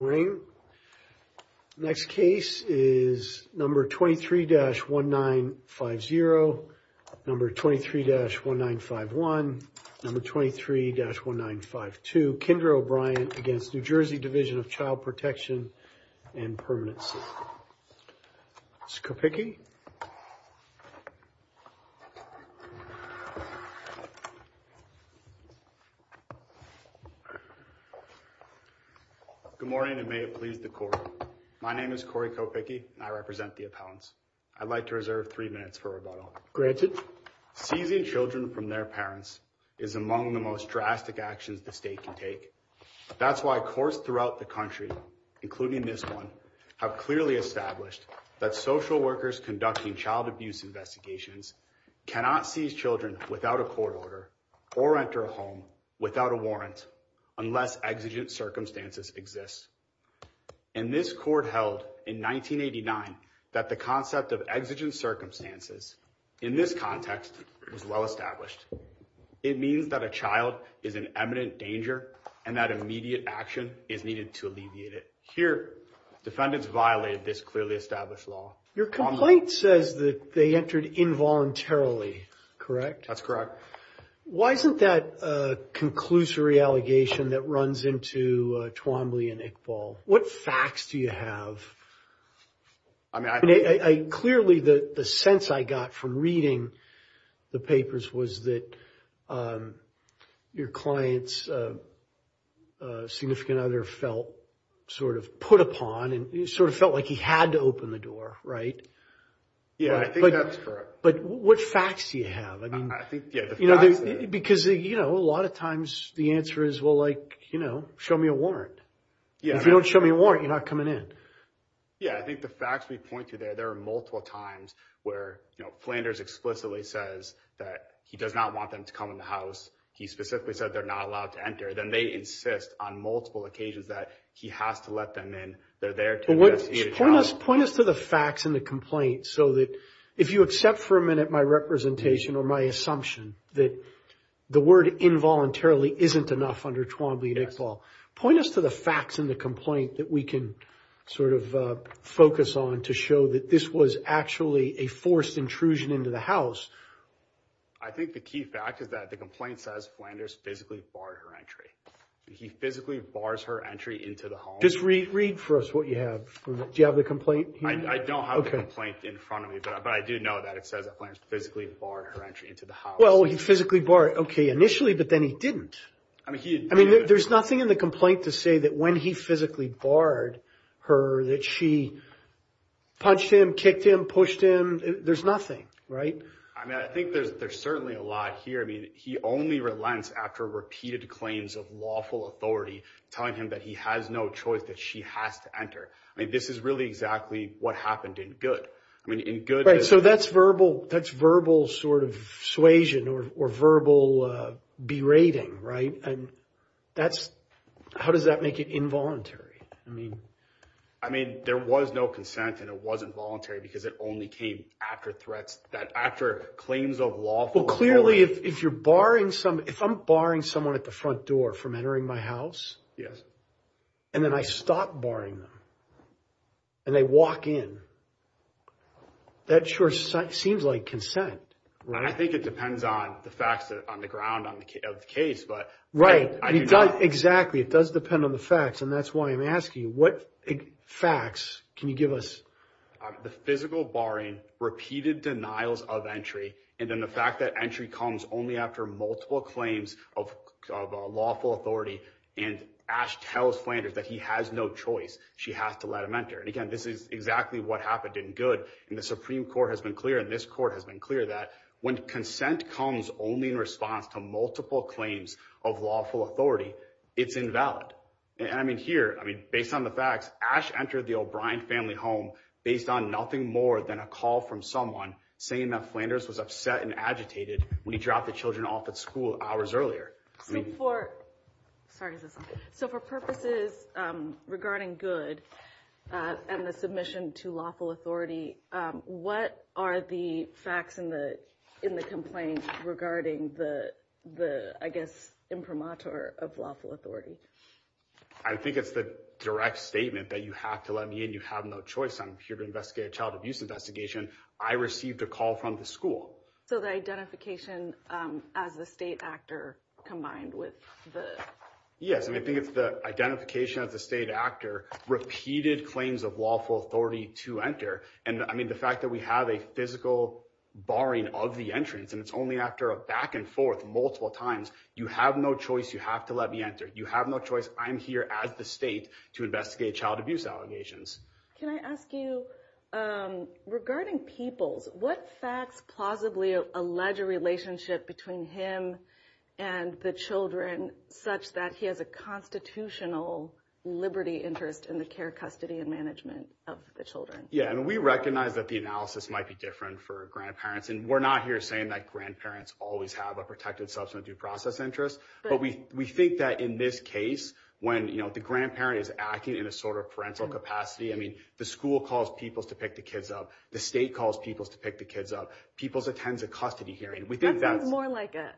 Good morning. Next case is number 23-1950, number 23-1951, number 23-1952, Kendra O'Brien against New Jersey Division of Child Protection and Permanency. Mr. Kopicki. Good morning and may it please the court. My name is Corey Kopicki and I represent the appellants. I'd like to reserve three minutes for rebuttal. Granted, seizing children from their parents is among the most drastic actions the state can take. That's why courts throughout the country, including this one, have clearly established that social workers conducting child abuse investigations cannot seize children without a court order or enter a home without a warrant unless exigent circumstances exist. And this court held in 1989 that the concept of exigent circumstances in this context was well established. It means that a child is in eminent danger and that immediate action is needed to alleviate it. Here, defendants violated this clearly established law. Your complaint says that they entered involuntarily, correct? That's correct. Why isn't that a conclusory allegation that runs into Twombly and Iqbal? What facts do you have? Clearly, the sense I got from reading the papers was that your client's significant other felt sort of put upon and sort of felt like he had to open the door, right? Yeah, I think that's correct. But what facts do you have? I think, yeah, the facts are there. Because a lot of times the answer is, well, like, show me a warrant. If you don't show me a warrant, you're not coming in. Yeah, I think the facts we point to there, there are multiple times where, you know, Flanders explicitly says that he does not want them to come in the house. He specifically said they're not allowed to enter. Then they insist on multiple occasions that he has to let them in. They're there to investigate a child. Point us to the facts in the complaint so that if you accept for a minute my representation or my assumption that the word involuntarily isn't enough under Twombly and Iqbal, point us to the facts in the complaint that we can sort of focus on to show that this was actually a forced intrusion into the house. I think the key fact is that the complaint says Flanders physically barred her entry. He physically bars her entry into the home. Just read for us what you have. Do you have the complaint? I don't have a complaint in front of me, but I do know that it says that Flanders physically barred her entry into the house. Well, he physically barred, OK, initially, but then he didn't. I mean, there's nothing in the complaint to say that when he physically barred her that she punched him, kicked him, pushed him. There's nothing right. I mean, I think there's certainly a lot here. I mean, he only relents after repeated claims of lawful authority, telling him that he has no choice, that she has to enter. I mean, this is really exactly what happened in good. I mean, in good. So that's verbal. That's verbal sort of suasion or verbal berating. Right. And that's how does that make it involuntary? I mean, I mean, there was no consent and it wasn't voluntary because it only came after threats that after claims of lawful. Clearly, if you're barring some if I'm barring someone at the front door from entering my house. Yes. And then I stop barring them. And they walk in. That sure seems like consent. I think it depends on the facts on the ground on the case, but. Right. Exactly. It does depend on the facts. And that's why I'm asking what facts can you give us? The physical barring, repeated denials of entry, and then the fact that entry comes only after multiple claims of lawful authority. And Ash tells Flanders that he has no choice. She has to let him enter. And again, this is exactly what happened in good. And the Supreme Court has been clear in this court has been clear that when consent comes only in response to multiple claims of lawful authority, it's invalid. And I mean, here, I mean, based on the facts, Ash entered the O'Brien family home based on nothing more than a call from someone saying that Flanders was upset and agitated when he dropped the children off at school hours earlier. So for purposes regarding good and the submission to lawful authority, what are the facts in the in the complaint regarding the the I guess imprimatur of lawful authority? I think it's the direct statement that you have to let me and you have no choice. I'm here to investigate a child abuse investigation. I received a call from the school. So the identification as the state actor combined with the. Yes. And I think it's the identification of the state actor, repeated claims of lawful authority to enter. And I mean, the fact that we have a physical barring of the entrance and it's only after a back and forth multiple times, you have no choice. You have to let me enter. You have no choice. I'm here as the state to investigate child abuse allegations. Can I ask you regarding people's what facts plausibly allege a relationship between him and the children such that he has a constitutional liberty interest in the care, custody and management of the children? Yeah. And we recognize that the analysis might be different for grandparents. And we're not here saying that grandparents always have a protected substance due process interest. But we we think that in this case, when the grandparent is acting in a sort of parental capacity, I mean, the school calls people to pick the kids up. The state calls people to pick the kids up. People's attends a custody hearing. We think that's more like a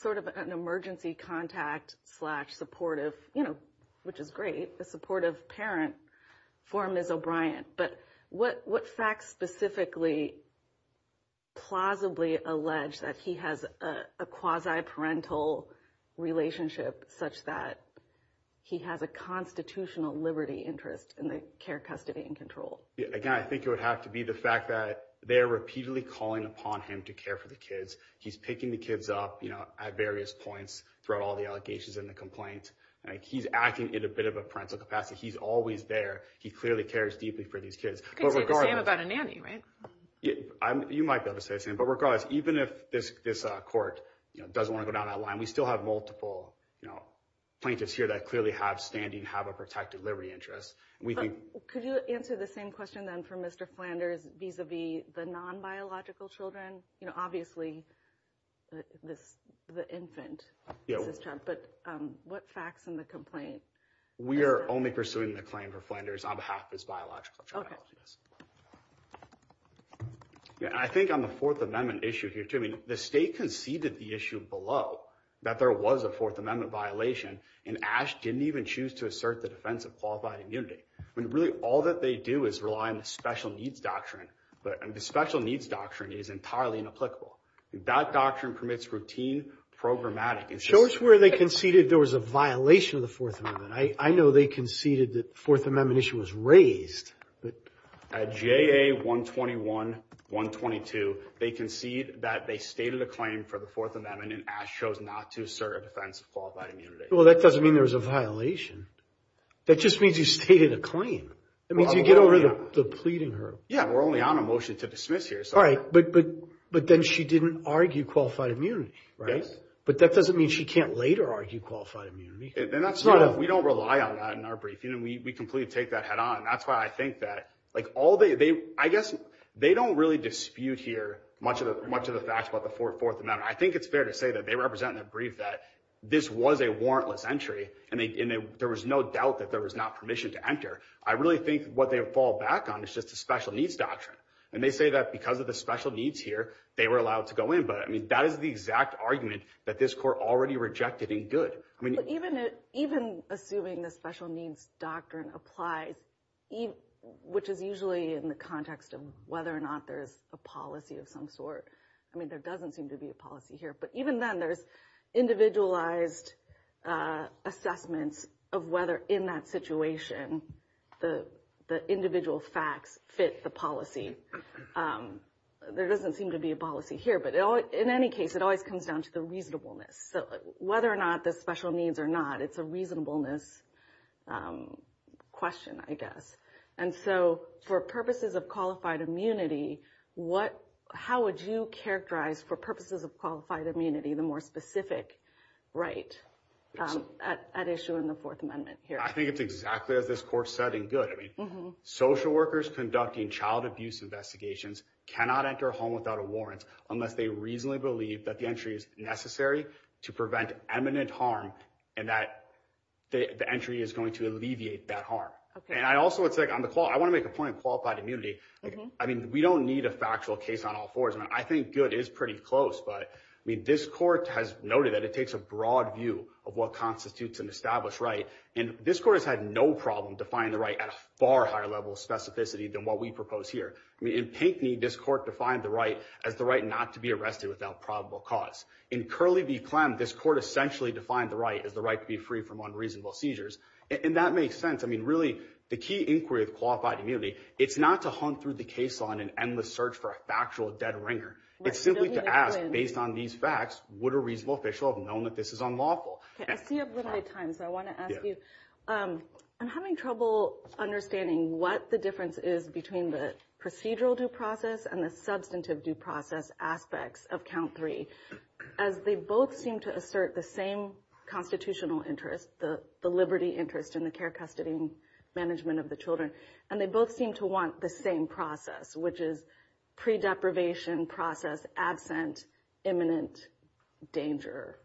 sort of an emergency contact slash supportive, you know, which is great. The supportive parent for him is O'Brien. But what what facts specifically. Plausibly allege that he has a quasi parental relationship such that he has a constitutional liberty interest in the care, custody and control. Again, I think it would have to be the fact that they are repeatedly calling upon him to care for the kids. He's picking the kids up, you know, at various points throughout all the allegations and the complaints. He's acting in a bit of a parental capacity. He's always there. He clearly cares deeply for these kids. About a nanny. Right. You might be able to say the same. But regardless, even if this court doesn't want to go down that line, we still have multiple plaintiffs here that clearly have standing, have a protected liberty interest. We think. Could you answer the same question then for Mr. Flanders vis-a-vis the non-biological children? You know, obviously this the infant, but what facts in the complaint? We are only pursuing the claim for Flanders on behalf of his biological. Yeah, I think on the Fourth Amendment issue here, Jimmy, the state conceded the issue below that there was a Fourth Amendment violation. And Ash didn't even choose to assert the defense of qualified immunity when really all that they do is rely on the special needs doctrine. But the special needs doctrine is entirely inapplicable. That doctrine permits routine programmatic. It shows where they conceded there was a violation of the Fourth Amendment. I know they conceded that Fourth Amendment issue was raised. At J.A. 121, 122, they concede that they stated a claim for the Fourth Amendment and Ash chose not to assert a defense of qualified immunity. Well, that doesn't mean there was a violation. That just means you stated a claim. I mean, you get over the pleading her. Yeah, we're only on a motion to dismiss here. All right. But but but then she didn't argue qualified immunity. Right. But that doesn't mean she can't later argue qualified immunity. And that's right. We don't rely on that in our brief. You know, we completely take that head on. That's why I think that like all day, they I guess they don't really dispute here much of much of the facts about the Fourth Amendment. I think it's fair to say that they represent that brief, that this was a warrantless entry. And there was no doubt that there was not permission to enter. I really think what they fall back on is just a special needs doctrine. And they say that because of the special needs here, they were allowed to go in. But I mean, that is the exact argument that this court already rejected in good. I mean, even even assuming the special needs doctrine applies, even which is usually in the context of whether or not there is a policy of some sort. I mean, there doesn't seem to be a policy here. But even then, there's individualized assessments of whether in that situation, the the individual facts fit the policy. There doesn't seem to be a policy here. But in any case, it always comes down to the reasonableness. So whether or not the special needs or not, it's a reasonableness question, I guess. And so for purposes of qualified immunity, what how would you characterize for purposes of qualified immunity, the more specific right at issue in the Fourth Amendment here? I think it's exactly as this court said in good social workers conducting child abuse. Investigations cannot enter a home without a warrant unless they reasonably believe that the entry is necessary to prevent eminent harm and that the entry is going to alleviate that harm. And I also would say on the call, I want to make a point of qualified immunity. I mean, we don't need a factual case on all fours. And I think good is pretty close. But I mean, this court has noted that it takes a broad view of what constitutes an established right. And this court has had no problem to find the right at a far higher level of specificity than what we propose here. In Pinkney, this court defined the right as the right not to be arrested without probable cause. In Curley v. Clem, this court essentially defined the right as the right to be free from unreasonable seizures. And that makes sense. I mean, really, the key inquiry of qualified immunity, it's not to hunt through the case on an endless search for a factual dead ringer. It's simply to ask, based on these facts, would a reasonable official have known that this is unlawful? I see you have a little bit of time, so I want to ask you. I'm having trouble understanding what the difference is between the procedural due process and the substantive due process aspects of count three, as they both seem to assert the same constitutional interest, the liberty interest in the care, custody and management of the children. And they both seem to want the same process, which is pre deprivation process, absent imminent danger.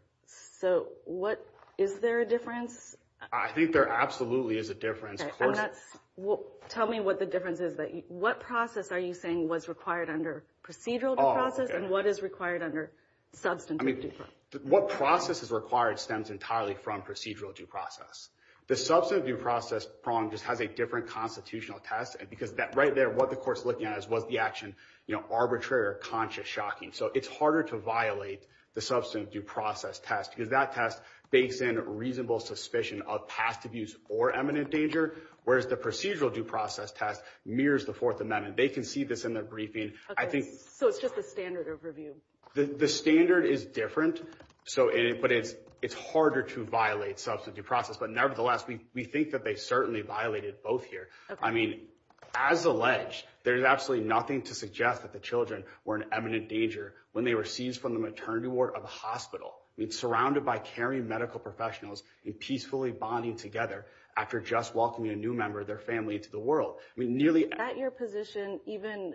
So what is there a difference? I think there absolutely is a difference. And that's what tell me what the difference is that what process are you saying was required under procedural process and what is required under substance? I mean, what process is required stems entirely from procedural due process. The substantive due process prong just has a different constitutional test. And because that right there, what the court's looking at is what the action, you know, arbitrary or conscious shocking. So it's harder to violate the substantive due process test because that test bakes in reasonable suspicion of past abuse or eminent danger. Whereas the procedural due process test mirrors the Fourth Amendment. They can see this in their briefing. I think so. It's just the standard overview. The standard is different. So it's it's harder to violate substantive process. But nevertheless, we think that they certainly violated both here. I mean, as alleged, there's absolutely nothing to suggest that the children were in imminent danger when they were seized from the maternity ward of a hospital. It's surrounded by caring medical professionals and peacefully bonding together after just welcoming a new member of their family to the world. We nearly at your position. Even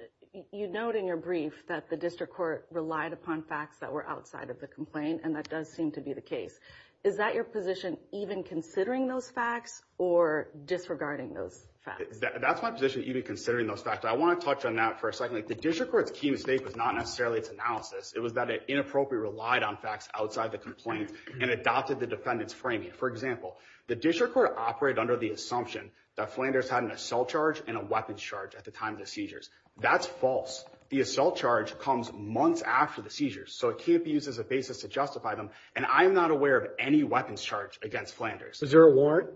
you note in your brief that the district court relied upon facts that were outside of the complaint. And that does seem to be the case. Is that your position, even considering those facts or disregarding those facts? That's my position, even considering those facts. I want to touch on that for a second. The district court's key mistake was not necessarily its analysis. It was that it inappropriate, relied on facts outside the complaint and adopted the defendant's framing. For example, the district court operated under the assumption that Flanders had an assault charge and a weapon charge at the time of the seizures. That's false. The assault charge comes months after the seizures, so it can't be used as a basis to justify them. And I'm not aware of any weapons charge against Flanders. Is there a warrant?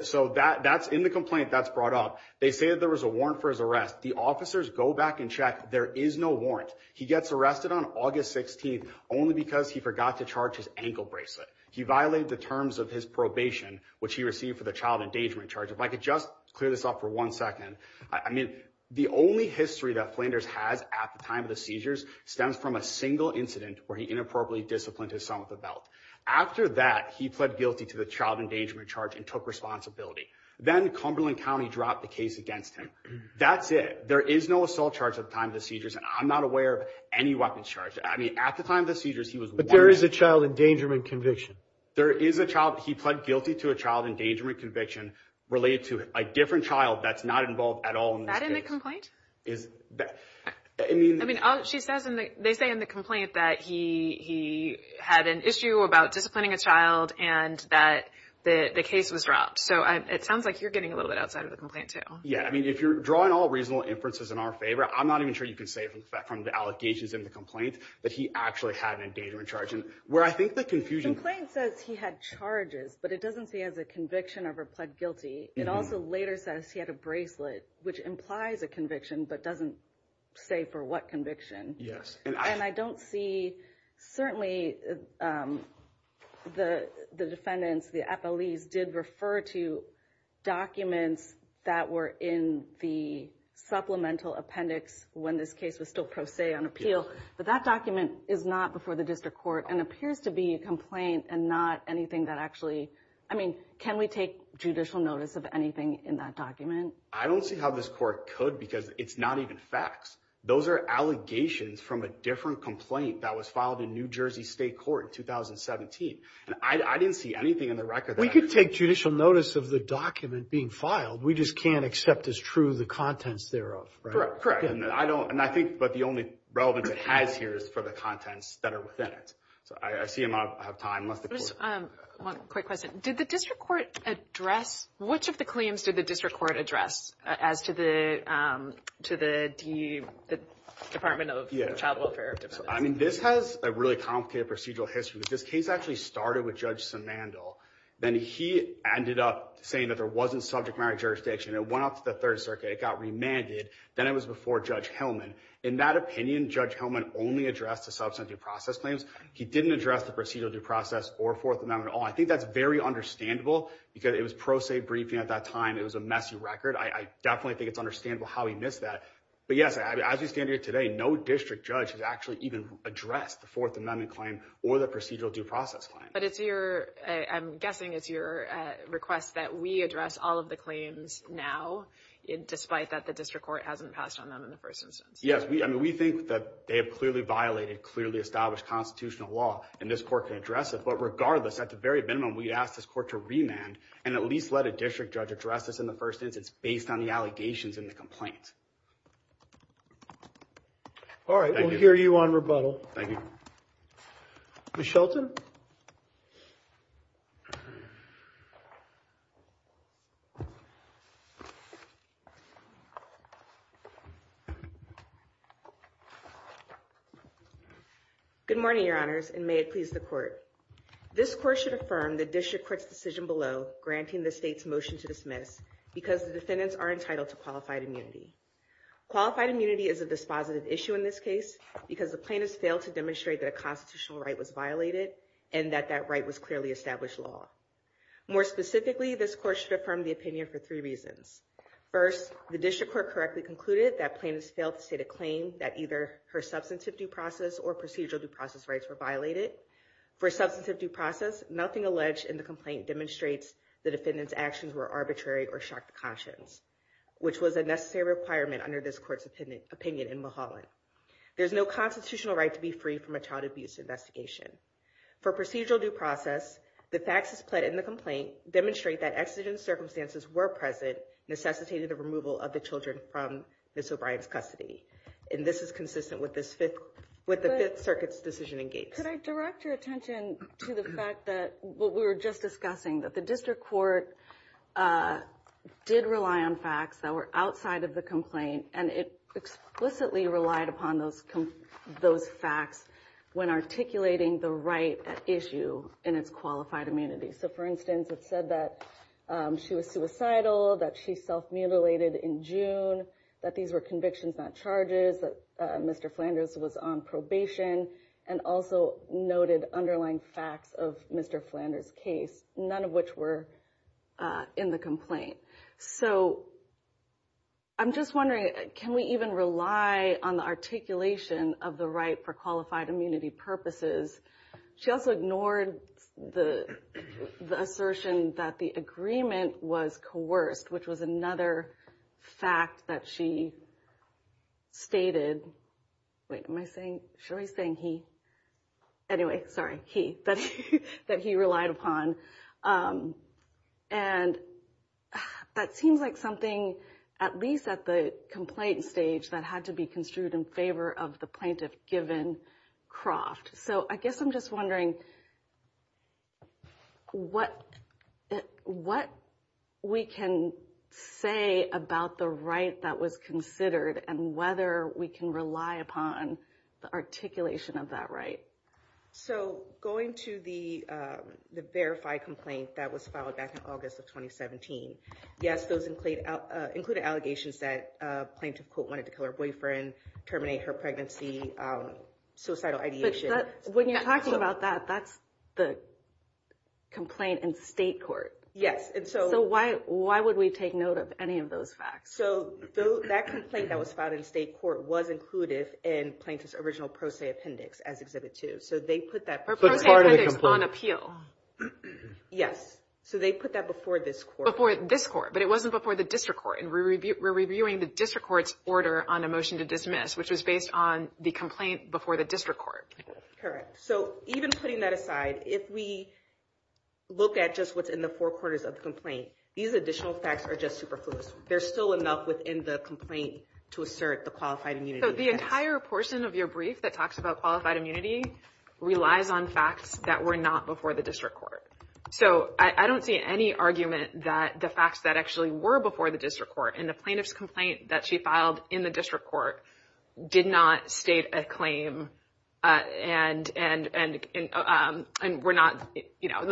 So that that's in the complaint that's brought up. They say that there was a warrant for his arrest. The officers go back and check. There is no warrant. He gets arrested on August 16th only because he forgot to charge his ankle bracelet. He violated the terms of his probation, which he received for the child endangerment charge. If I could just clear this up for one second. I mean, the only history that Flanders has at the time of the seizures stems from a single incident where he inappropriately disciplined his son with a belt. After that, he pled guilty to the child endangerment charge and took responsibility. Then Cumberland County dropped the case against him. That's it. There is no assault charge at the time of the seizures, and I'm not aware of any weapons charge. I mean, at the time of the seizures, he was there is a child endangerment conviction. There is a child. He pled guilty to a child endangerment conviction related to a different child. That's not involved at all in the complaint is that I mean, I mean, she says they say in the complaint that he had an issue about disciplining a child and that the case was dropped. So it sounds like you're getting a little bit outside of the complaint. Yeah. I mean, if you're drawing all reasonable inferences in our favor, I'm not even sure you can say from the allegations in the complaint that he actually had an endangerment charge. The complaint says he had charges, but it doesn't say as a conviction of a pled guilty. It also later says he had a bracelet, which implies a conviction, but doesn't say for what conviction. Yes. And I don't see certainly the defendants, the appellees did refer to documents that were in the supplemental appendix when this case was still pro se on appeal. But that document is not before the district court and appears to be a complaint and not anything that actually I mean, can we take judicial notice of anything in that document? I don't see how this court could because it's not even facts. Those are allegations from a different complaint that was filed in New Jersey State Court in 2017. And I didn't see anything in the record. We could take judicial notice of the document being filed. We just can't accept as true the contents thereof. Correct. And I don't and I think but the only relevance it has here is for the contents that are within it. So I see him. I have time. One quick question. Did the district court address which of the claims did the district court address as to the to the Department of Child Welfare? I mean, this has a really complicated procedural history. This case actually started with Judge Samandel. Then he ended up saying that there wasn't subject marriage jurisdiction. It went up to the Third Circuit. It got remanded. Then it was before Judge Hellman. In that opinion, Judge Hellman only addressed a substantive process claims. He didn't address the procedural due process or Fourth Amendment. I think that's very understandable because it was pro se briefing at that time. It was a messy record. I definitely think it's understandable how he missed that. But yes, as we stand here today, no district judge has actually even addressed the Fourth Amendment claim or the procedural due process. But it's your I'm guessing it's your request that we address all of the claims now, despite that the district court hasn't passed on them in the first instance. Yes, we I mean, we think that they have clearly violated clearly established constitutional law and this court can address it. But regardless, at the very minimum, we ask this court to remand and at least let a district judge address this in the first instance, based on the allegations in the complaint. All right. I hear you on rebuttal. Thank you. Shelton. Good morning, Your Honors, and may it please the court. This court should affirm the district court's decision below granting the state's motion to dismiss because the defendants are entitled to qualified immunity. Qualified immunity is a dispositive issue in this case because the plaintiffs failed to demonstrate that a constitutional right was violated and that that right was clearly established law. More specifically, this court should affirm the opinion for three reasons. First, the district court correctly concluded that plaintiffs failed to state a claim that either her substantive due process or procedural due process rights were violated. For substantive due process, nothing alleged in the complaint demonstrates the defendant's actions were arbitrary or shocked the conscience, which was a necessary requirement under this court's opinion in Mulholland. There's no constitutional right to be free from a child abuse investigation. For procedural due process, the facts as pled in the complaint demonstrate that exigent circumstances were present necessitated the removal of the children from Miss O'Brien's custody. And this is consistent with the Fifth Circuit's decision in Gates. Could I direct your attention to the fact that what we were just discussing, that the district court did rely on facts that were outside of the complaint, and it explicitly relied upon those facts when articulating the right at issue in its qualified immunity. So for instance, it said that she was suicidal, that she self-mutilated in June, that these were convictions, not charges, that Mr. Flanders was on probation, and also noted underlying facts of Mr. Flanders' case, none of which were in the complaint. So I'm just wondering, can we even rely on the articulation of the right for qualified immunity purposes? She also ignored the assertion that the agreement was coerced, which was another fact that she stated. Wait, am I saying, should I be saying he? Anyway, sorry, he, that he relied upon. And that seems like something, at least at the complaint stage, that had to be construed in favor of the plaintiff given Croft. So I guess I'm just wondering what we can say about the right that was considered and whether we can rely upon the articulation of that right. So going to the verified complaint that was filed back in August of 2017, yes, those included allegations that plaintiff, quote, wanted to kill her boyfriend, terminate her pregnancy, suicidal ideation. But when you're talking about that, that's the complaint in state court. Yes. So why would we take note of any of those facts? So that complaint that was filed in state court was included in plaintiff's original pro se appendix as Exhibit 2. So they put that pro se appendix on appeal. Yes. So they put that before this court. Before this court, but it wasn't before the district court. And we're reviewing the district court's order on a motion to dismiss, which was based on the complaint before the district court. Correct. So even putting that aside, if we look at just what's in the four corners of the complaint, these additional facts are just superfluous. There's still enough within the complaint to assert the qualified immunity. So the entire portion of your brief that talks about qualified immunity relies on facts that were not before the district court. So I don't see any argument that the facts that actually were before the district court in the plaintiff's complaint that she filed in the district court did not state a claim and were not, you know,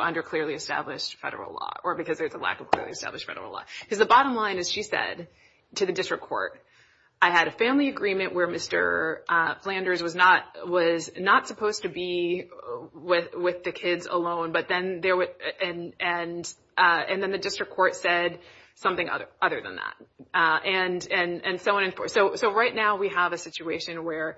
under clearly established federal law or because there's a lack of clearly established federal law. Because the bottom line, as she said, to the district court, I had a family agreement where Mr. Flanders was not supposed to be with the kids alone. And then the district court said something other than that. And so on and forth. So right now we have a situation where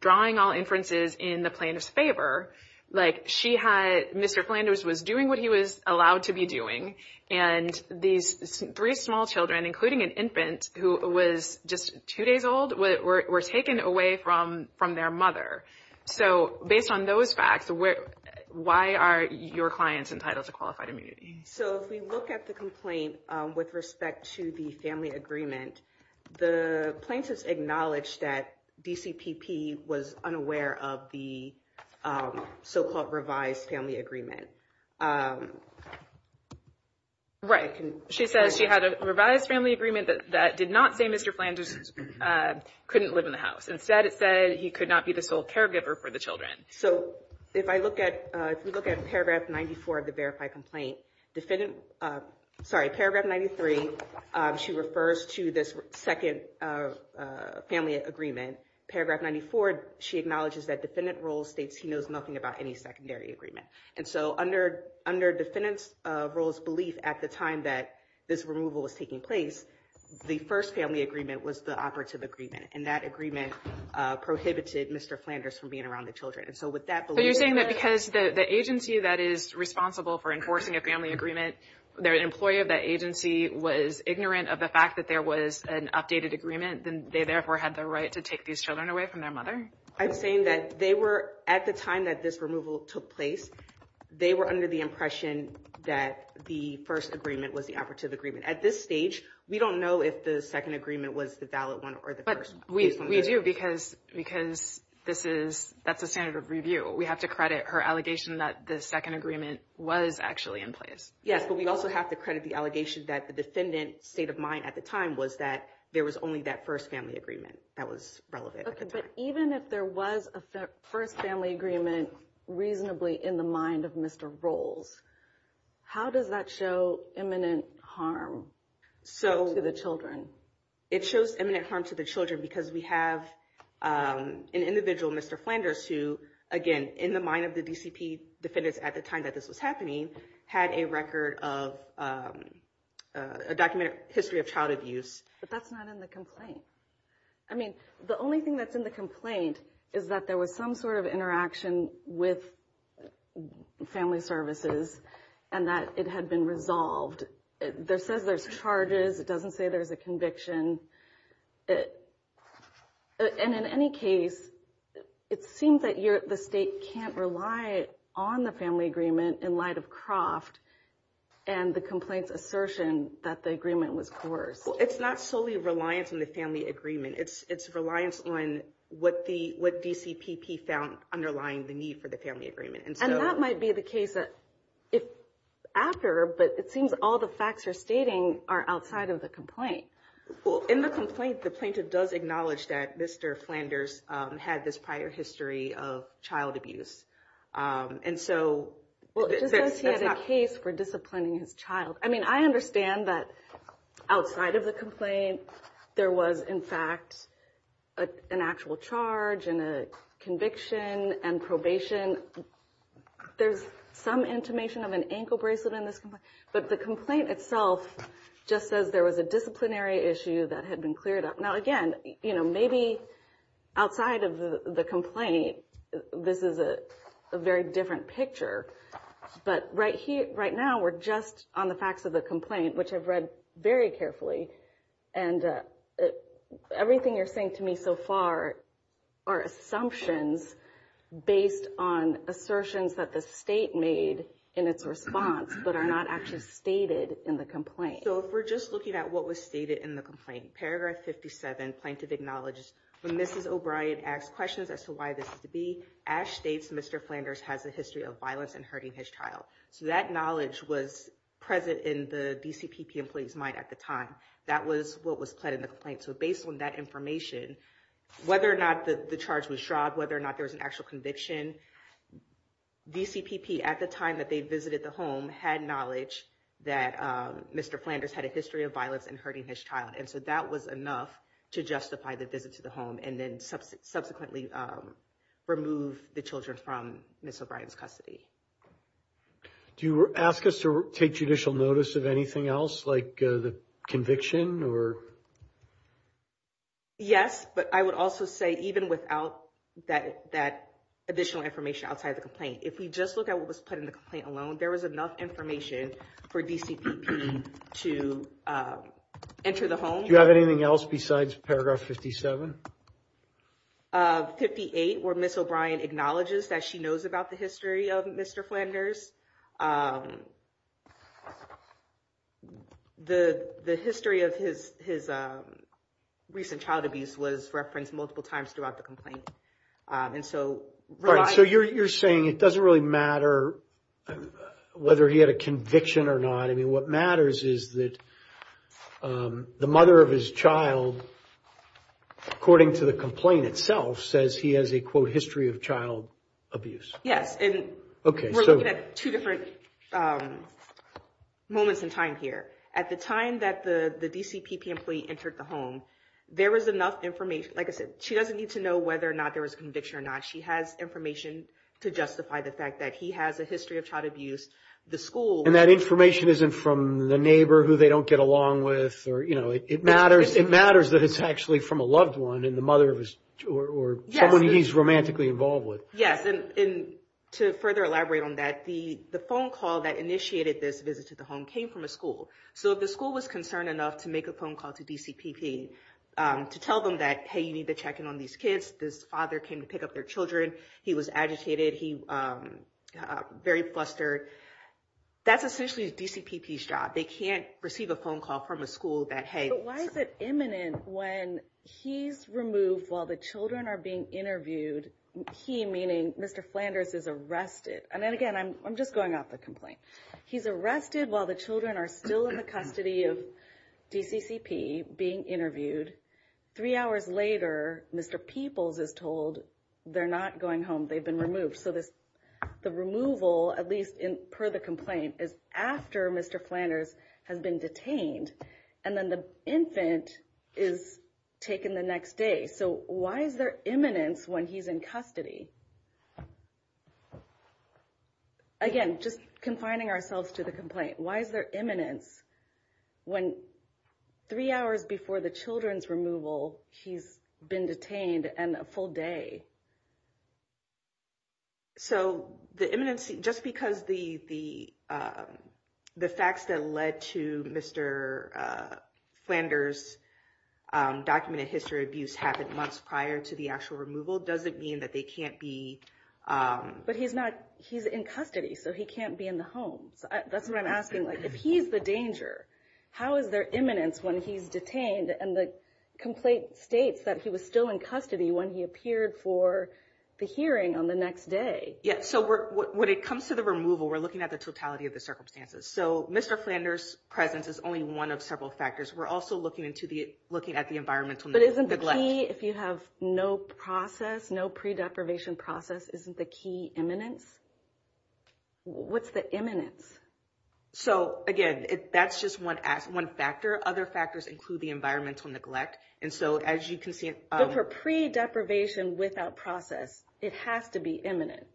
drawing all inferences in the plaintiff's favor, like she had Mr. Flanders was doing what he was allowed to be doing. And these three small children, including an infant who was just two days old, were taken away from their mother. So based on those facts, why are your clients entitled to qualified immunity? So if we look at the complaint with respect to the family agreement, the plaintiff's acknowledged that DCPP was unaware of the so-called revised family agreement. Right. She says she had a revised family agreement that did not say Mr. Flanders couldn't live in the house. Instead, it said he could not be the sole caregiver for the children. So if I look at if we look at paragraph 94 of the verified complaint defendant. Sorry. Paragraph 93. She refers to this second family agreement. Paragraph 94. She acknowledges that defendant rule states he knows nothing about any secondary agreement. And so under under defendants rules belief at the time that this removal was taking place, the first family agreement was the operative agreement. And that agreement prohibited Mr. Flanders from being around the children. And so with that, you're saying that because the agency that is responsible for enforcing a family agreement, their employee of that agency was ignorant of the fact that there was an updated agreement. Then they therefore had the right to take these children away from their mother. I'm saying that they were at the time that this removal took place. They were under the impression that the first agreement was the operative agreement. At this stage, we don't know if the second agreement was the valid one or the first. But we do because because this is that's a standard of review. We have to credit her allegation that the second agreement was actually in place. Yes. But we also have to credit the allegation that the defendant state of mind at the time was that there was only that first family agreement that was relevant. Even if there was a first family agreement reasonably in the mind of Mr. Rolls, how does that show imminent harm to the children? It shows imminent harm to the children because we have an individual, Mr. Flanders, who, again, in the mind of the DCP defendants at the time that this was happening, had a record of a documented history of child abuse. But that's not in the complaint. I mean, the only thing that's in the complaint is that there was some sort of interaction with family services and that it had been resolved. There says there's charges. It doesn't say there's a conviction. And in any case, it seemed that the state can't rely on the family agreement in light of Croft and the complaints assertion that the agreement was coerced. Well, it's not solely reliance on the family agreement. It's reliance on what DCPP found underlying the need for the family agreement. And that might be the case after, but it seems all the facts you're stating are outside of the complaint. Well, in the complaint, the plaintiff does acknowledge that Mr. Flanders had this prior history of child abuse. Well, it just says he had a case for disciplining his child. I mean, I understand that outside of the complaint, there was, in fact, an actual charge and a conviction and probation. There's some intimation of an ankle bracelet in this complaint. But the complaint itself just says there was a disciplinary issue that had been cleared up. Now, again, you know, maybe outside of the complaint, this is a very different picture. But right here right now, we're just on the facts of the complaint, which I've read very carefully. And everything you're saying to me so far are assumptions based on assertions that the state made in its response, but are not actually stated in the complaint. So if we're just looking at what was stated in the complaint, paragraph 57 plaintiff acknowledges when Mrs. O'Brien asks questions as to why this is to be, Ash states Mr. Flanders has a history of violence and hurting his child. So that knowledge was present in the DCPP employee's mind at the time. That was what was pled in the complaint. So based on that information, whether or not the charge was shroud, whether or not there was an actual conviction, DCPP at the time that they visited the home had knowledge that Mr. Flanders had a history of violence and hurting his child. And so that was enough to justify the visit to the home and then subsequently remove the children from Miss O'Brien's custody. Do you ask us to take judicial notice of anything else like the conviction or? Yes, but I would also say even without that additional information outside the complaint, if we just look at what was put in the complaint alone, there was enough information for DCPP to enter the home. Do you have anything else besides paragraph 57? 58, where Miss O'Brien acknowledges that she knows about the history of Mr. Flanders. The history of his recent child abuse was referenced multiple times throughout the complaint. And so you're saying it doesn't really matter whether he had a conviction or not. I mean, what matters is that the mother of his child, according to the complaint itself, says he has a, quote, history of child abuse. Yes. And we're looking at two different moments in time here. At the time that the DCPP employee entered the home, there was enough information. Like I said, she doesn't need to know whether or not there was a conviction or not. She has information to justify the fact that he has a history of child abuse. And that information isn't from the neighbor who they don't get along with or, you know, it matters. It matters that it's actually from a loved one and the mother or someone he's romantically involved with. Yes. And to further elaborate on that, the phone call that initiated this visit to the home came from a school. So if the school was concerned enough to make a phone call to DCPP to tell them that, hey, you need to check in on these kids, this father came to pick up their children. He was agitated. He very flustered. That's essentially DCPP's job. They can't receive a phone call from a school that, hey. Why is it imminent when he's removed while the children are being interviewed? He, meaning Mr. Flanders, is arrested. And then again, I'm just going off the complaint. He's arrested while the children are still in the custody of DCCP being interviewed. Three hours later, Mr. Peoples is told they're not going home. They've been removed. So the removal, at least per the complaint, is after Mr. Flanders has been detained. And then the infant is taken the next day. So why is there imminence when he's in custody? Again, just confining ourselves to the complaint. Why is there imminence when three hours before the children's removal, he's been detained and a full day? So the imminence, just because the facts that led to Mr. Flanders' documented history of abuse happened months prior to the actual removal, doesn't mean that they can't be... But he's in custody, so he can't be in the home. That's what I'm asking. If he's the danger, how is there imminence when he's detained? And the complaint states that he was still in custody when he appeared for the hearing on the next day. Yeah, so when it comes to the removal, we're looking at the totality of the circumstances. So Mr. Flanders' presence is only one of several factors. We're also looking at the environmental neglect. So the key, if you have no process, no pre-deprivation process, isn't the key imminence? What's the imminence? So again, that's just one factor. Other factors include the environmental neglect. And so as you can see... But for pre-deprivation without process, it has to be imminent.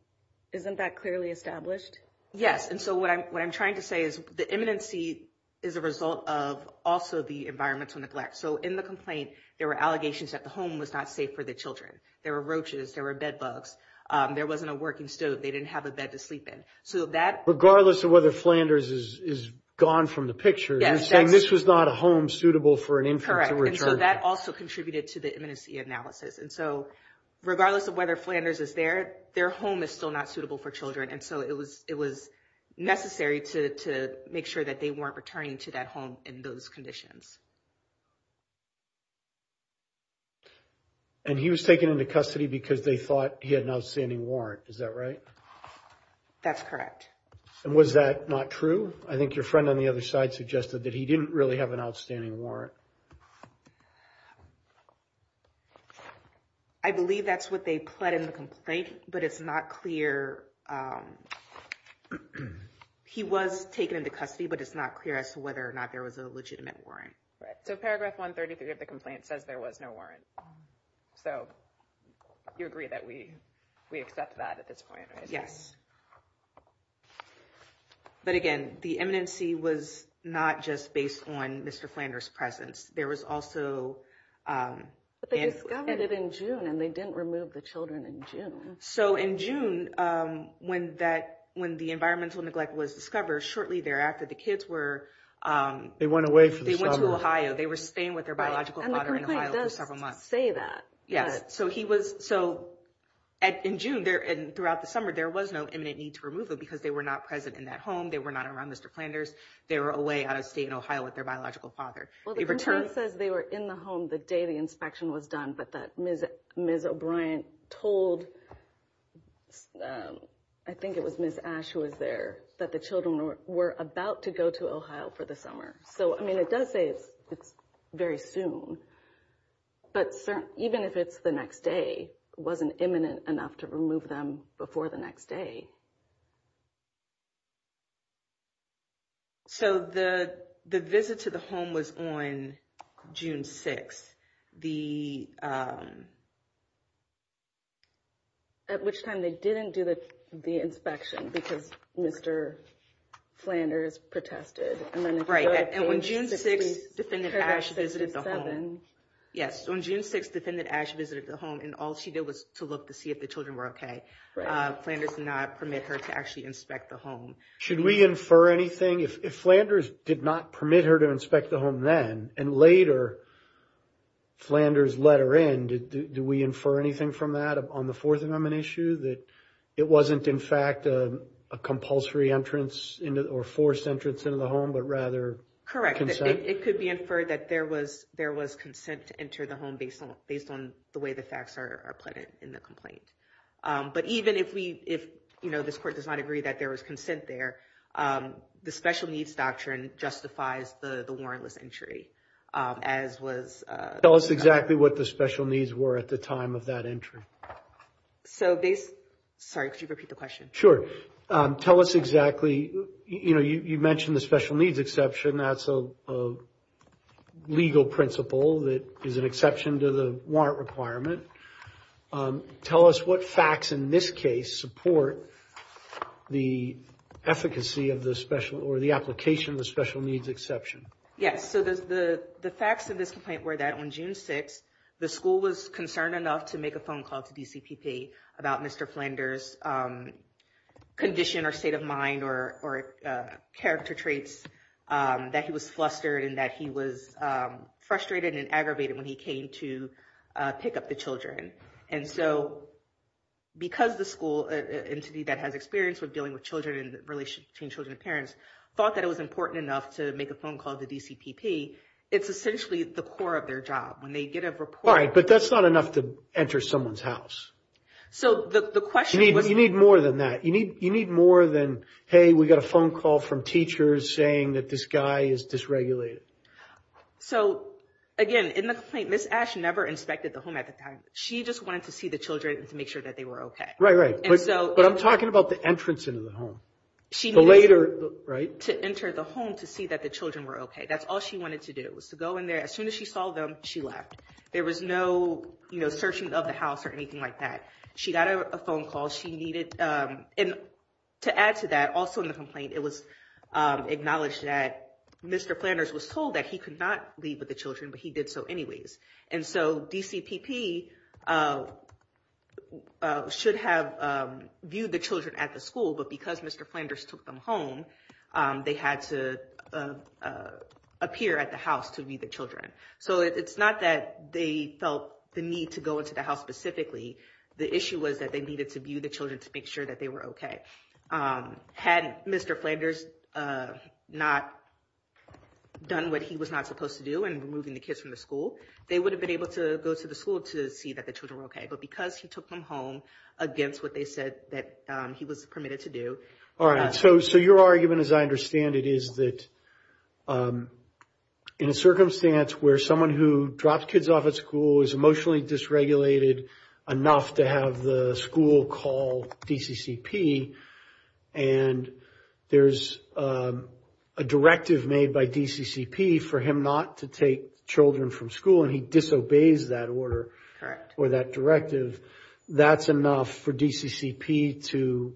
Isn't that clearly established? Yes. And so what I'm trying to say is the imminency is a result of also the environmental neglect. So in the complaint, there were allegations that the home was not safe for the children. There were roaches. There were bedbugs. There wasn't a working stove. They didn't have a bed to sleep in. Regardless of whether Flanders is gone from the picture, you're saying this was not a home suitable for an infant to return to. Correct. And so that also contributed to the imminency analysis. And so regardless of whether Flanders is there, their home is still not suitable for children. And so it was necessary to make sure that they weren't returning to that home in those conditions. And he was taken into custody because they thought he had an outstanding warrant. Is that right? That's correct. And was that not true? I think your friend on the other side suggested that he didn't really have an outstanding warrant. I believe that's what they pled in the complaint, but it's not clear. He was taken into custody, but it's not clear as to whether or not there was a legitimate warrant. So paragraph 133 of the complaint says there was no warrant. So you agree that we we accept that at this point? Yes. But again, the imminency was not just based on Mr. Flanders' presence. There was also... But they discovered it in June, and they didn't remove the children in June. So in June, when the environmental neglect was discovered, shortly thereafter, the kids were... They went away for the summer. They went to Ohio. They were staying with their biological father in Ohio for several months. And the complaint does say that. Yes. So in June, throughout the summer, there was no imminent need to remove them because they were not present in that home. They were not around Mr. Flanders. They were away out of state in Ohio with their biological father. Well, the complaint says they were in the home the day the inspection was done, but that Ms. O'Brien told... I think it was Ms. Ashe who was there, that the children were about to go to Ohio for the summer. So, I mean, it does say it's very soon, but even if it's the next day, it wasn't imminent enough to remove them before the next day. So the visit to the home was on June 6th, the... At which time they didn't do the inspection because Mr. Flanders protested. Right. And on June 6th, Defendant Ashe visited the home. Yes. On June 6th, Defendant Ashe visited the home, and all she did was to look to see if the children were okay. Flanders did not permit her to actually inspect the home. Should we infer anything? If Flanders did not permit her to inspect the home then, and later Flanders let her in, do we infer anything from that on the Fourth Amendment issue that it wasn't in fact a compulsory entrance or forced entrance into the home, but rather consent? Correct. It could be inferred that there was consent to enter the home based on the way the facts are appended in the complaint. But even if this court does not agree that there was consent there, the Special Needs Doctrine justifies the warrantless entry, as was... Tell us exactly what the special needs were at the time of that entry. Sorry, could you repeat the question? Sure. Tell us exactly, you know, you mentioned the special needs exception. That's a legal principle that is an exception to the warrant requirement. Tell us what facts in this case support the efficacy of the special or the application of the special needs exception. Yes, so the facts of this complaint were that on June 6, the school was concerned enough to make a phone call to DCPP about Mr. Flanders' condition or state of mind or character traits, that he was flustered and that he was frustrated and aggravated when he came to pick up the children. And so because the school entity that has experience with dealing with children in relation to children and parents thought that it was important enough to make a phone call to DCPP, it's essentially the core of their job when they get a report... All right, but that's not enough to enter someone's house. So the question was... You need more than that. You need more than, hey, we got a phone call from teachers saying that this guy is dysregulated. So, again, in the complaint, Ms. Ash never inspected the home at the time. She just wanted to see the children to make sure that they were okay. Right, right. But I'm talking about the entrance into the home. She needed to enter the home to see that the children were okay. That's all she wanted to do was to go in there. As soon as she saw them, she left. There was no searching of the house or anything like that. She got a phone call. And to add to that, also in the complaint, it was acknowledged that Mr. Flanders was told that he could not leave with the children, but he did so anyways. And so DCPP should have viewed the children at the school. But because Mr. Flanders took them home, they had to appear at the house to view the children. So it's not that they felt the need to go into the house specifically. The issue was that they needed to view the children to make sure that they were okay. Had Mr. Flanders not done what he was not supposed to do in removing the kids from the school, they would have been able to go to the school to see that the children were okay. But because he took them home against what they said that he was permitted to do. All right. So your argument, as I understand it, is that in a circumstance where someone who dropped kids off at school is emotionally dysregulated enough to have the school call DCCP, and there's a directive made by DCCP for him not to take children from school, and he disobeys that order or that directive, that's enough for DCCP to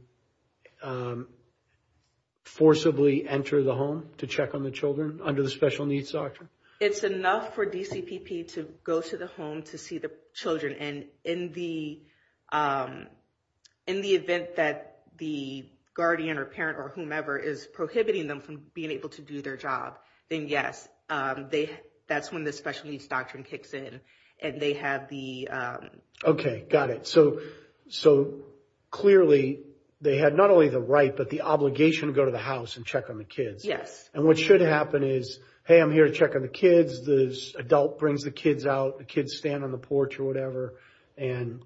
forcibly enter the home to check on the children under the Special Needs Doctrine? It's enough for DCPP to go to the home to see the children. And in the event that the guardian or parent or whomever is prohibiting them from being able to do their job, then yes, that's when the Special Needs Doctrine kicks in. Okay, got it. So clearly they had not only the right, but the obligation to go to the house and check on the kids. Yes. And what should happen is, hey, I'm here to check on the kids. The adult brings the kids out. The kids stand on the porch or whatever, and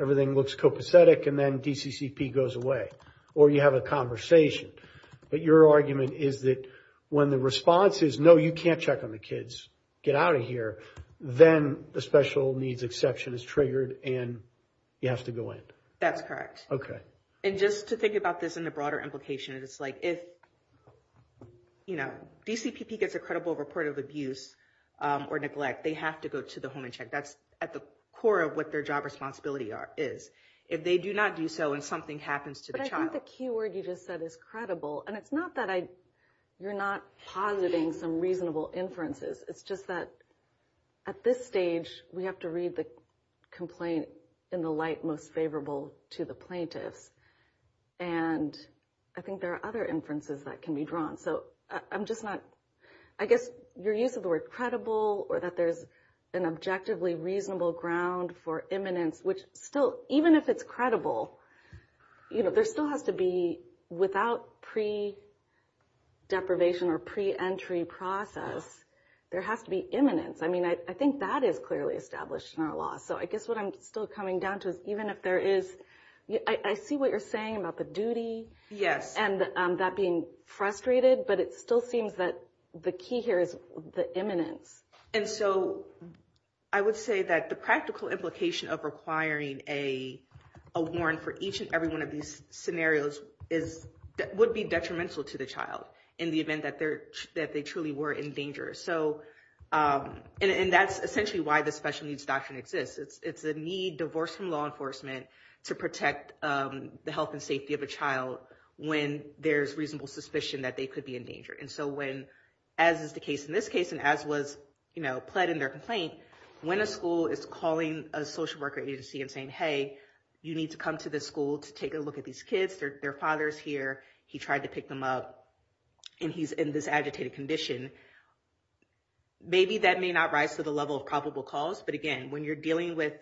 everything looks copacetic, and then DCCP goes away. Or you have a conversation. But your argument is that when the response is, no, you can't check on the kids, get out of here, then the special needs exception is triggered, and you have to go in. That's correct. Okay. And just to think about this in a broader implication, it's like if DCPP gets a credible report of abuse or neglect, they have to go to the home and check. That's at the core of what their job responsibility is. If they do not do so and something happens to the child. I think the key word you just said is credible. And it's not that you're not positing some reasonable inferences. It's just that at this stage, we have to read the complaint in the light most favorable to the plaintiffs. And I think there are other inferences that can be drawn. I guess your use of the word credible or that there's an objectively reasonable ground for imminence, which still, even if it's credible, there still has to be, without pre-deprivation or pre-entry process, there has to be imminence. I mean, I think that is clearly established in our law. So I guess what I'm still coming down to is even if there is, I see what you're saying about the duty. Yes. And that being frustrated, but it still seems that the key here is the imminence. And so I would say that the practical implication of requiring a warrant for each and every one of these scenarios would be detrimental to the child in the event that they truly were in danger. And that's essentially why the special needs doctrine exists. It's the need divorced from law enforcement to protect the health and safety of a child when there's reasonable suspicion that they could be in danger. And so when, as is the case in this case, and as was pled in their complaint, when a school is calling a social worker agency and saying, hey, you need to come to this school to take a look at these kids, their father's here. He tried to pick them up. And he's in this agitated condition. Maybe that may not rise to the level of probable cause. But again, when you're dealing with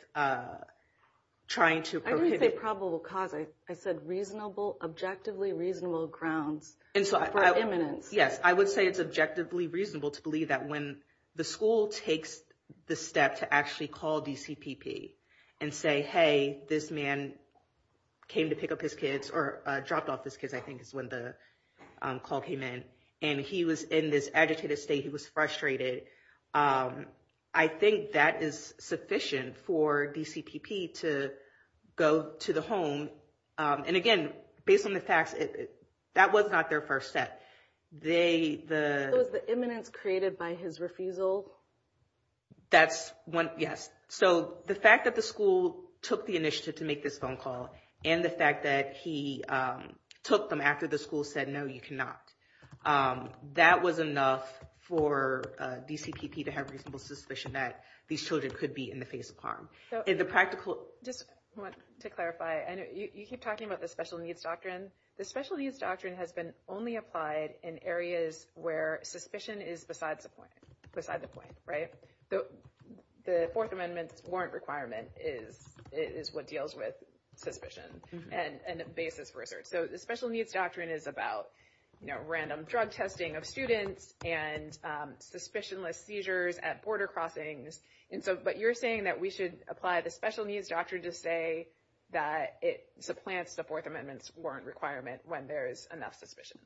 trying to... I didn't say probable cause. I said reasonable, objectively reasonable grounds for imminence. Yes, I would say it's objectively reasonable to believe that when the school takes the step to actually call DCPP and say, hey, this man came to pick up his kids or dropped off his kids, I think is when the call came in. And he was in this agitated state. He was frustrated. I think that is sufficient for DCPP to go to the home. And again, based on the facts, that was not their first step. Was the imminence created by his refusal? Yes. So the fact that the school took the initiative to make this phone call and the fact that he took them after the school said, no, you cannot, that was enough for DCPP to have reasonable suspicion that these children could be in the face of harm. Just want to clarify. You keep talking about the special needs doctrine. The special needs doctrine has been only applied in areas where suspicion is beside the point. The Fourth Amendment's warrant requirement is what deals with suspicion and a basis for research. So the special needs doctrine is about random drug testing of students and suspicionless seizures at border crossings. But you're saying that we should apply the special needs doctrine to say that it supplants the Fourth Amendment's warrant requirement when there is enough suspicion.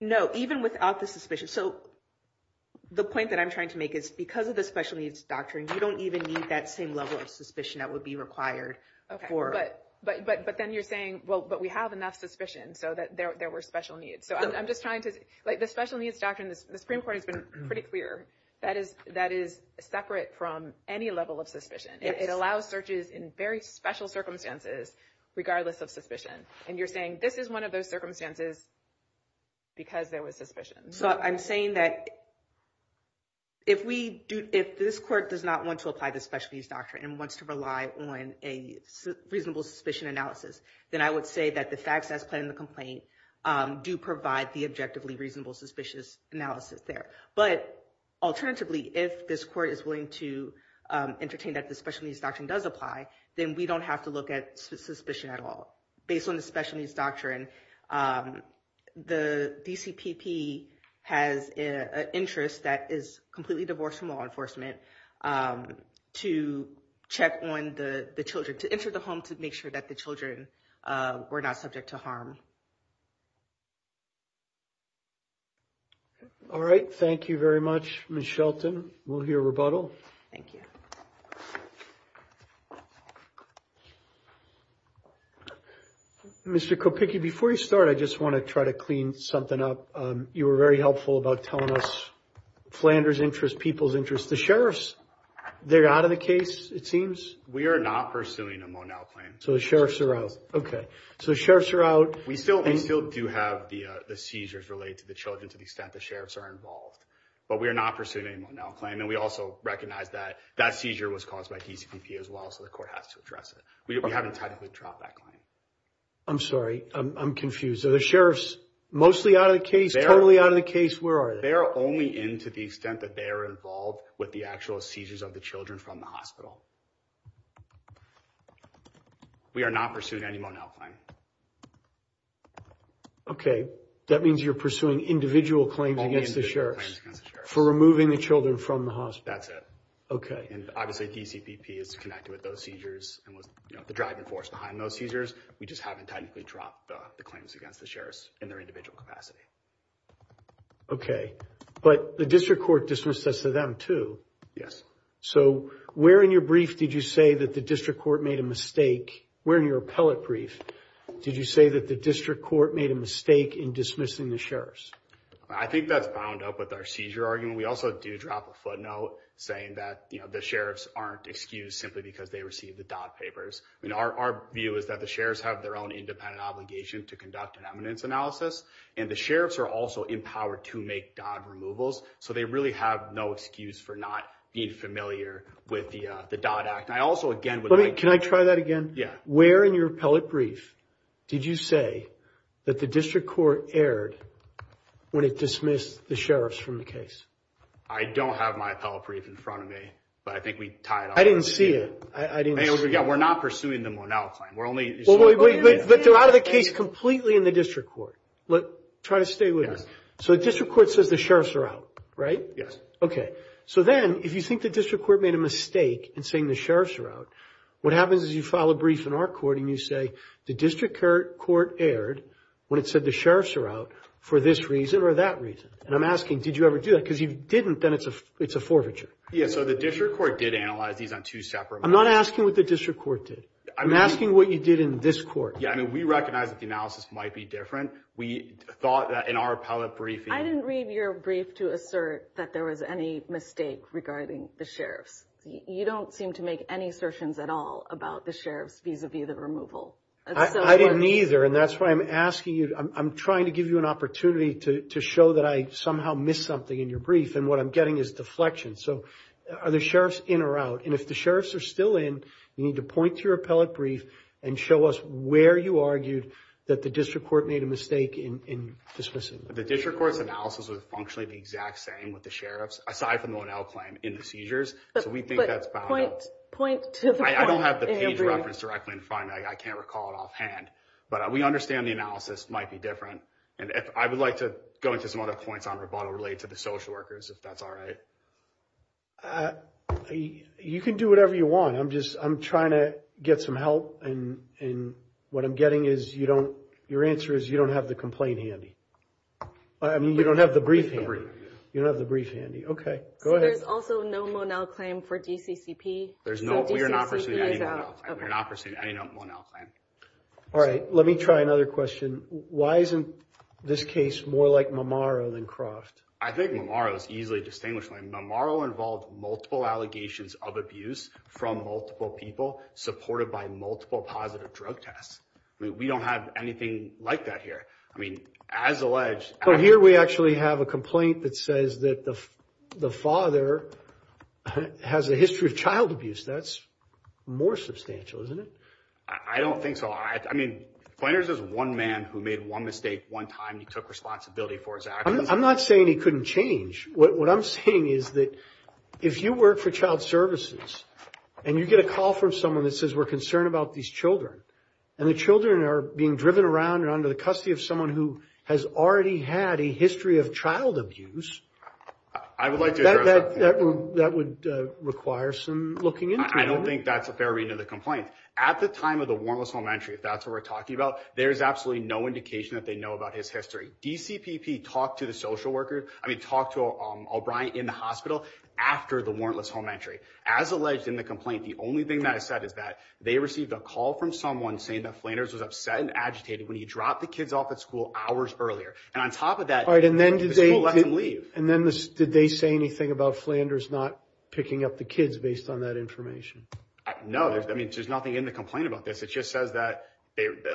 No, even without the suspicion. So the point that I'm trying to make is because of the special needs doctrine, you don't even need that same level of suspicion that would be required. But then you're saying, well, but we have enough suspicion so that there were special needs. The special needs doctrine, the Supreme Court has been pretty clear that is separate from any level of suspicion. It allows searches in very special circumstances regardless of suspicion. And you're saying this is one of those circumstances because there was suspicion. So I'm saying that if we do, if this court does not want to apply the special needs doctrine and wants to rely on a reasonable suspicion analysis, then I would say that the facts as planned in the complaint do provide the objectively reasonable suspicious analysis there. But alternatively, if this court is willing to entertain that the special needs doctrine does apply, then we don't have to look at suspicion at all. Based on the special needs doctrine, the DCPP has an interest that is completely divorced from law enforcement to check on the children, to enter the home, to make sure that the children were not subject to harm. All right. Thank you very much, Ms. Shelton. We'll hear rebuttal. Thank you. Mr. Kopicki, before you start, I just want to try to clean something up. You were very helpful about telling us Flanders' interest, people's interest. The sheriffs, they're out of the case, it seems. We are not pursuing a Monell claim. So the sheriffs are out. Okay. So the sheriffs are out. We still do have the seizures related to the children to the extent the sheriffs are involved. But we are not pursuing any Monell claim. And we also recognize that that seizure was caused by DCPP as well, so the court has to address it. We haven't technically dropped that claim. I'm sorry. I'm confused. Are the sheriffs mostly out of the case, totally out of the case? Where are they? They are only in to the extent that they are involved with the actual seizures of the children from the hospital. We are not pursuing any Monell claim. Okay. That means you're pursuing individual claims against the sheriffs for removing the children from the hospital. That's it. And obviously DCPP is connected with those seizures and was the driving force behind those seizures. We just haven't technically dropped the claims against the sheriffs in their individual capacity. Okay. But the district court dismissed this to them too. Yes. So where in your brief did you say that the district court made a mistake? Where in your appellate brief did you say that the district court made a mistake in dismissing the sheriffs? I think that's bound up with our seizure argument. We also do drop a footnote saying that the sheriffs aren't excused simply because they received the Dodd papers. Our view is that the sheriffs have their own independent obligation to conduct an eminence analysis. And the sheriffs are also empowered to make Dodd removals. So they really have no excuse for not being familiar with the Dodd Act. Can I try that again? Where in your appellate brief did you say that the district court erred when it dismissed the sheriffs from the case? I don't have my appellate brief in front of me. But I think we tied it up. I didn't see it. We're not pursuing the Monell claim. But they're out of the case completely in the district court. Try to stay with us. So the district court says the sheriffs are out, right? Yes. Okay. So then if you think the district court made a mistake in saying the sheriffs are out, what happens is you file a brief in our court and you say, the district court erred when it said the sheriffs are out for this reason or that reason. And I'm asking, did you ever do that? Because if you didn't, then it's a forfeiture. Yeah, so the district court did analyze these on two separate matters. I'm not asking what the district court did. I'm asking what you did in this court. Yeah, I mean, we recognize that the analysis might be different. We thought that in our appellate briefing. I didn't read your brief to assert that there was any mistake regarding the sheriffs. You don't seem to make any assertions at all about the sheriffs vis-a-vis the removal. I didn't either, and that's why I'm asking you. I'm trying to give you an opportunity to show that I somehow missed something in your brief, and what I'm getting is deflection. So are the sheriffs in or out? And if the sheriffs are still in, you need to point to your appellate brief and show us where you argued that the district court made a mistake in dismissing them. The district court's analysis was functionally the exact same with the sheriffs, aside from the Onell claim in the seizures. So we think that's valid. But point to the point in your brief. I don't have the page reference directly in front of me. I can't recall it offhand, but we understand the analysis might be different. And I would like to go into some other points on rebuttal related to the social workers, if that's all right. You can do whatever you want. I'm trying to get some help, and what I'm getting is your answer is you don't have the complaint handy. I mean, you don't have the brief handy. You don't have the brief handy. Okay, go ahead. There's also no Onell claim for DCCP. We are not pursuing any Onell claim. We are not pursuing any Onell claim. All right, let me try another question. Why isn't this case more like Mamaro than Croft? I think Mamaro is easily distinguishable. Mamaro involved multiple allegations of abuse from multiple people supported by multiple positive drug tests. We don't have anything like that here. I mean, as alleged. Here we actually have a complaint that says that the father has a history of child abuse. That's more substantial, isn't it? I don't think so. I mean, Pointers is one man who made one mistake one time. He took responsibility for his actions. I'm not saying he couldn't change. What I'm saying is that if you work for child services and you get a call from someone that says we're concerned about these children and the children are being driven around and under the custody of someone who has already had a history of child abuse. I would like to address that point. That would require some looking into it. I don't think that's a fair read into the complaint. At the time of the warrantless home entry, if that's what we're talking about, there's absolutely no indication that they know about his history. DCPP talked to the social worker. I mean, talk to O'Brien in the hospital after the warrantless home entry, as alleged in the complaint. The only thing that I said is that they received a call from someone saying that Flanders was upset and agitated when he dropped the kids off at school hours earlier. And on top of that, right. And then did they leave? And then did they say anything about Flanders not picking up the kids based on that information? No, I mean, there's nothing in the complaint about this. It just says that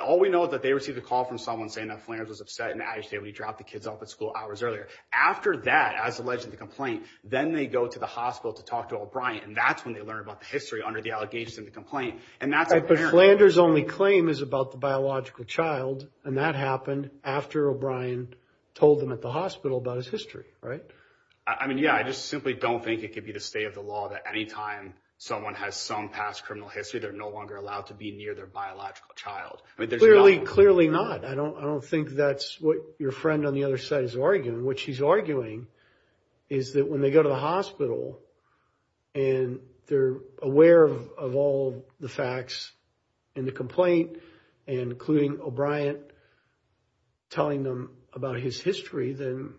all we know that they received a call from someone saying that Flanders was upset and agitated. When he dropped the kids off at school hours earlier. After that, as alleged in the complaint, then they go to the hospital to talk to O'Brien. And that's when they learn about the history under the allegations in the complaint. And that's apparent. But Flanders' only claim is about the biological child. And that happened after O'Brien told them at the hospital about his history, right? I mean, yeah. I just simply don't think it could be the state of the law that any time someone has some past criminal history, they're no longer allowed to be near their biological child. Clearly, clearly not. I don't think that's what your friend on the other side is arguing. What she's arguing is that when they go to the hospital and they're aware of all the facts in the complaint, including O'Brien telling them about his history, then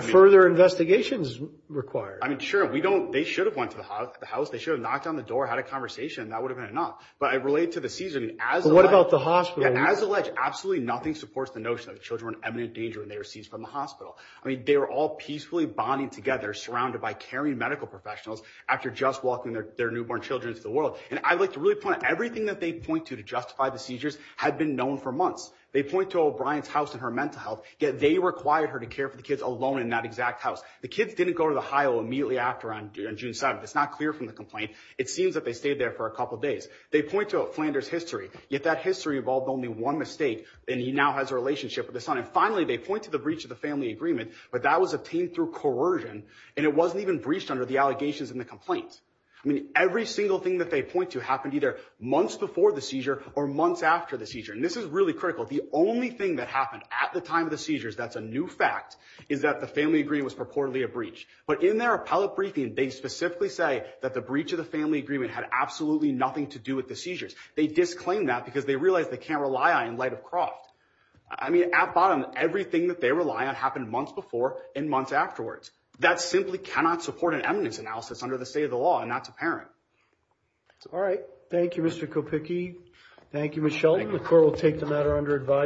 further investigation is required. I mean, sure. We don't. They should have went to the house. They should have knocked on the door, had a conversation. That would have been enough. But I relate to the season. But what about the hospital? As alleged, absolutely nothing supports the notion that the children were in imminent danger when they were seized from the hospital. I mean, they were all peacefully bonding together, surrounded by caring medical professionals, after just walking their newborn children into the world. And I'd like to really point out, everything that they point to to justify the seizures had been known for months. They point to O'Brien's house and her mental health, yet they required her to care for the kids alone in that exact house. The kids didn't go to the highway immediately after on June 7th. It's not clear from the complaint. It seems that they stayed there for a couple of days. They point to Flanders' history, yet that history involved only one mistake, and he now has a relationship with his son. And finally, they point to the breach of the family agreement, but that was obtained through coercion, and it wasn't even breached under the allegations in the complaint. I mean, every single thing that they point to happened either months before the seizure or months after the seizure. And this is really critical. The only thing that happened at the time of the seizures that's a new fact is that the family agreement was purportedly a breach. But in their appellate briefing, they specifically say that the breach of the family agreement had absolutely nothing to do with the seizures. They disclaim that because they realize they can't rely on it in light of Croft. I mean, at bottom, everything that they rely on happened months before and months afterwards. That simply cannot support an eminence analysis under the state of the law, and that's apparent. All right. Thank you, Mr. Kopicki. Thank you, Ms. Shelton. The court will take the matter under advisory.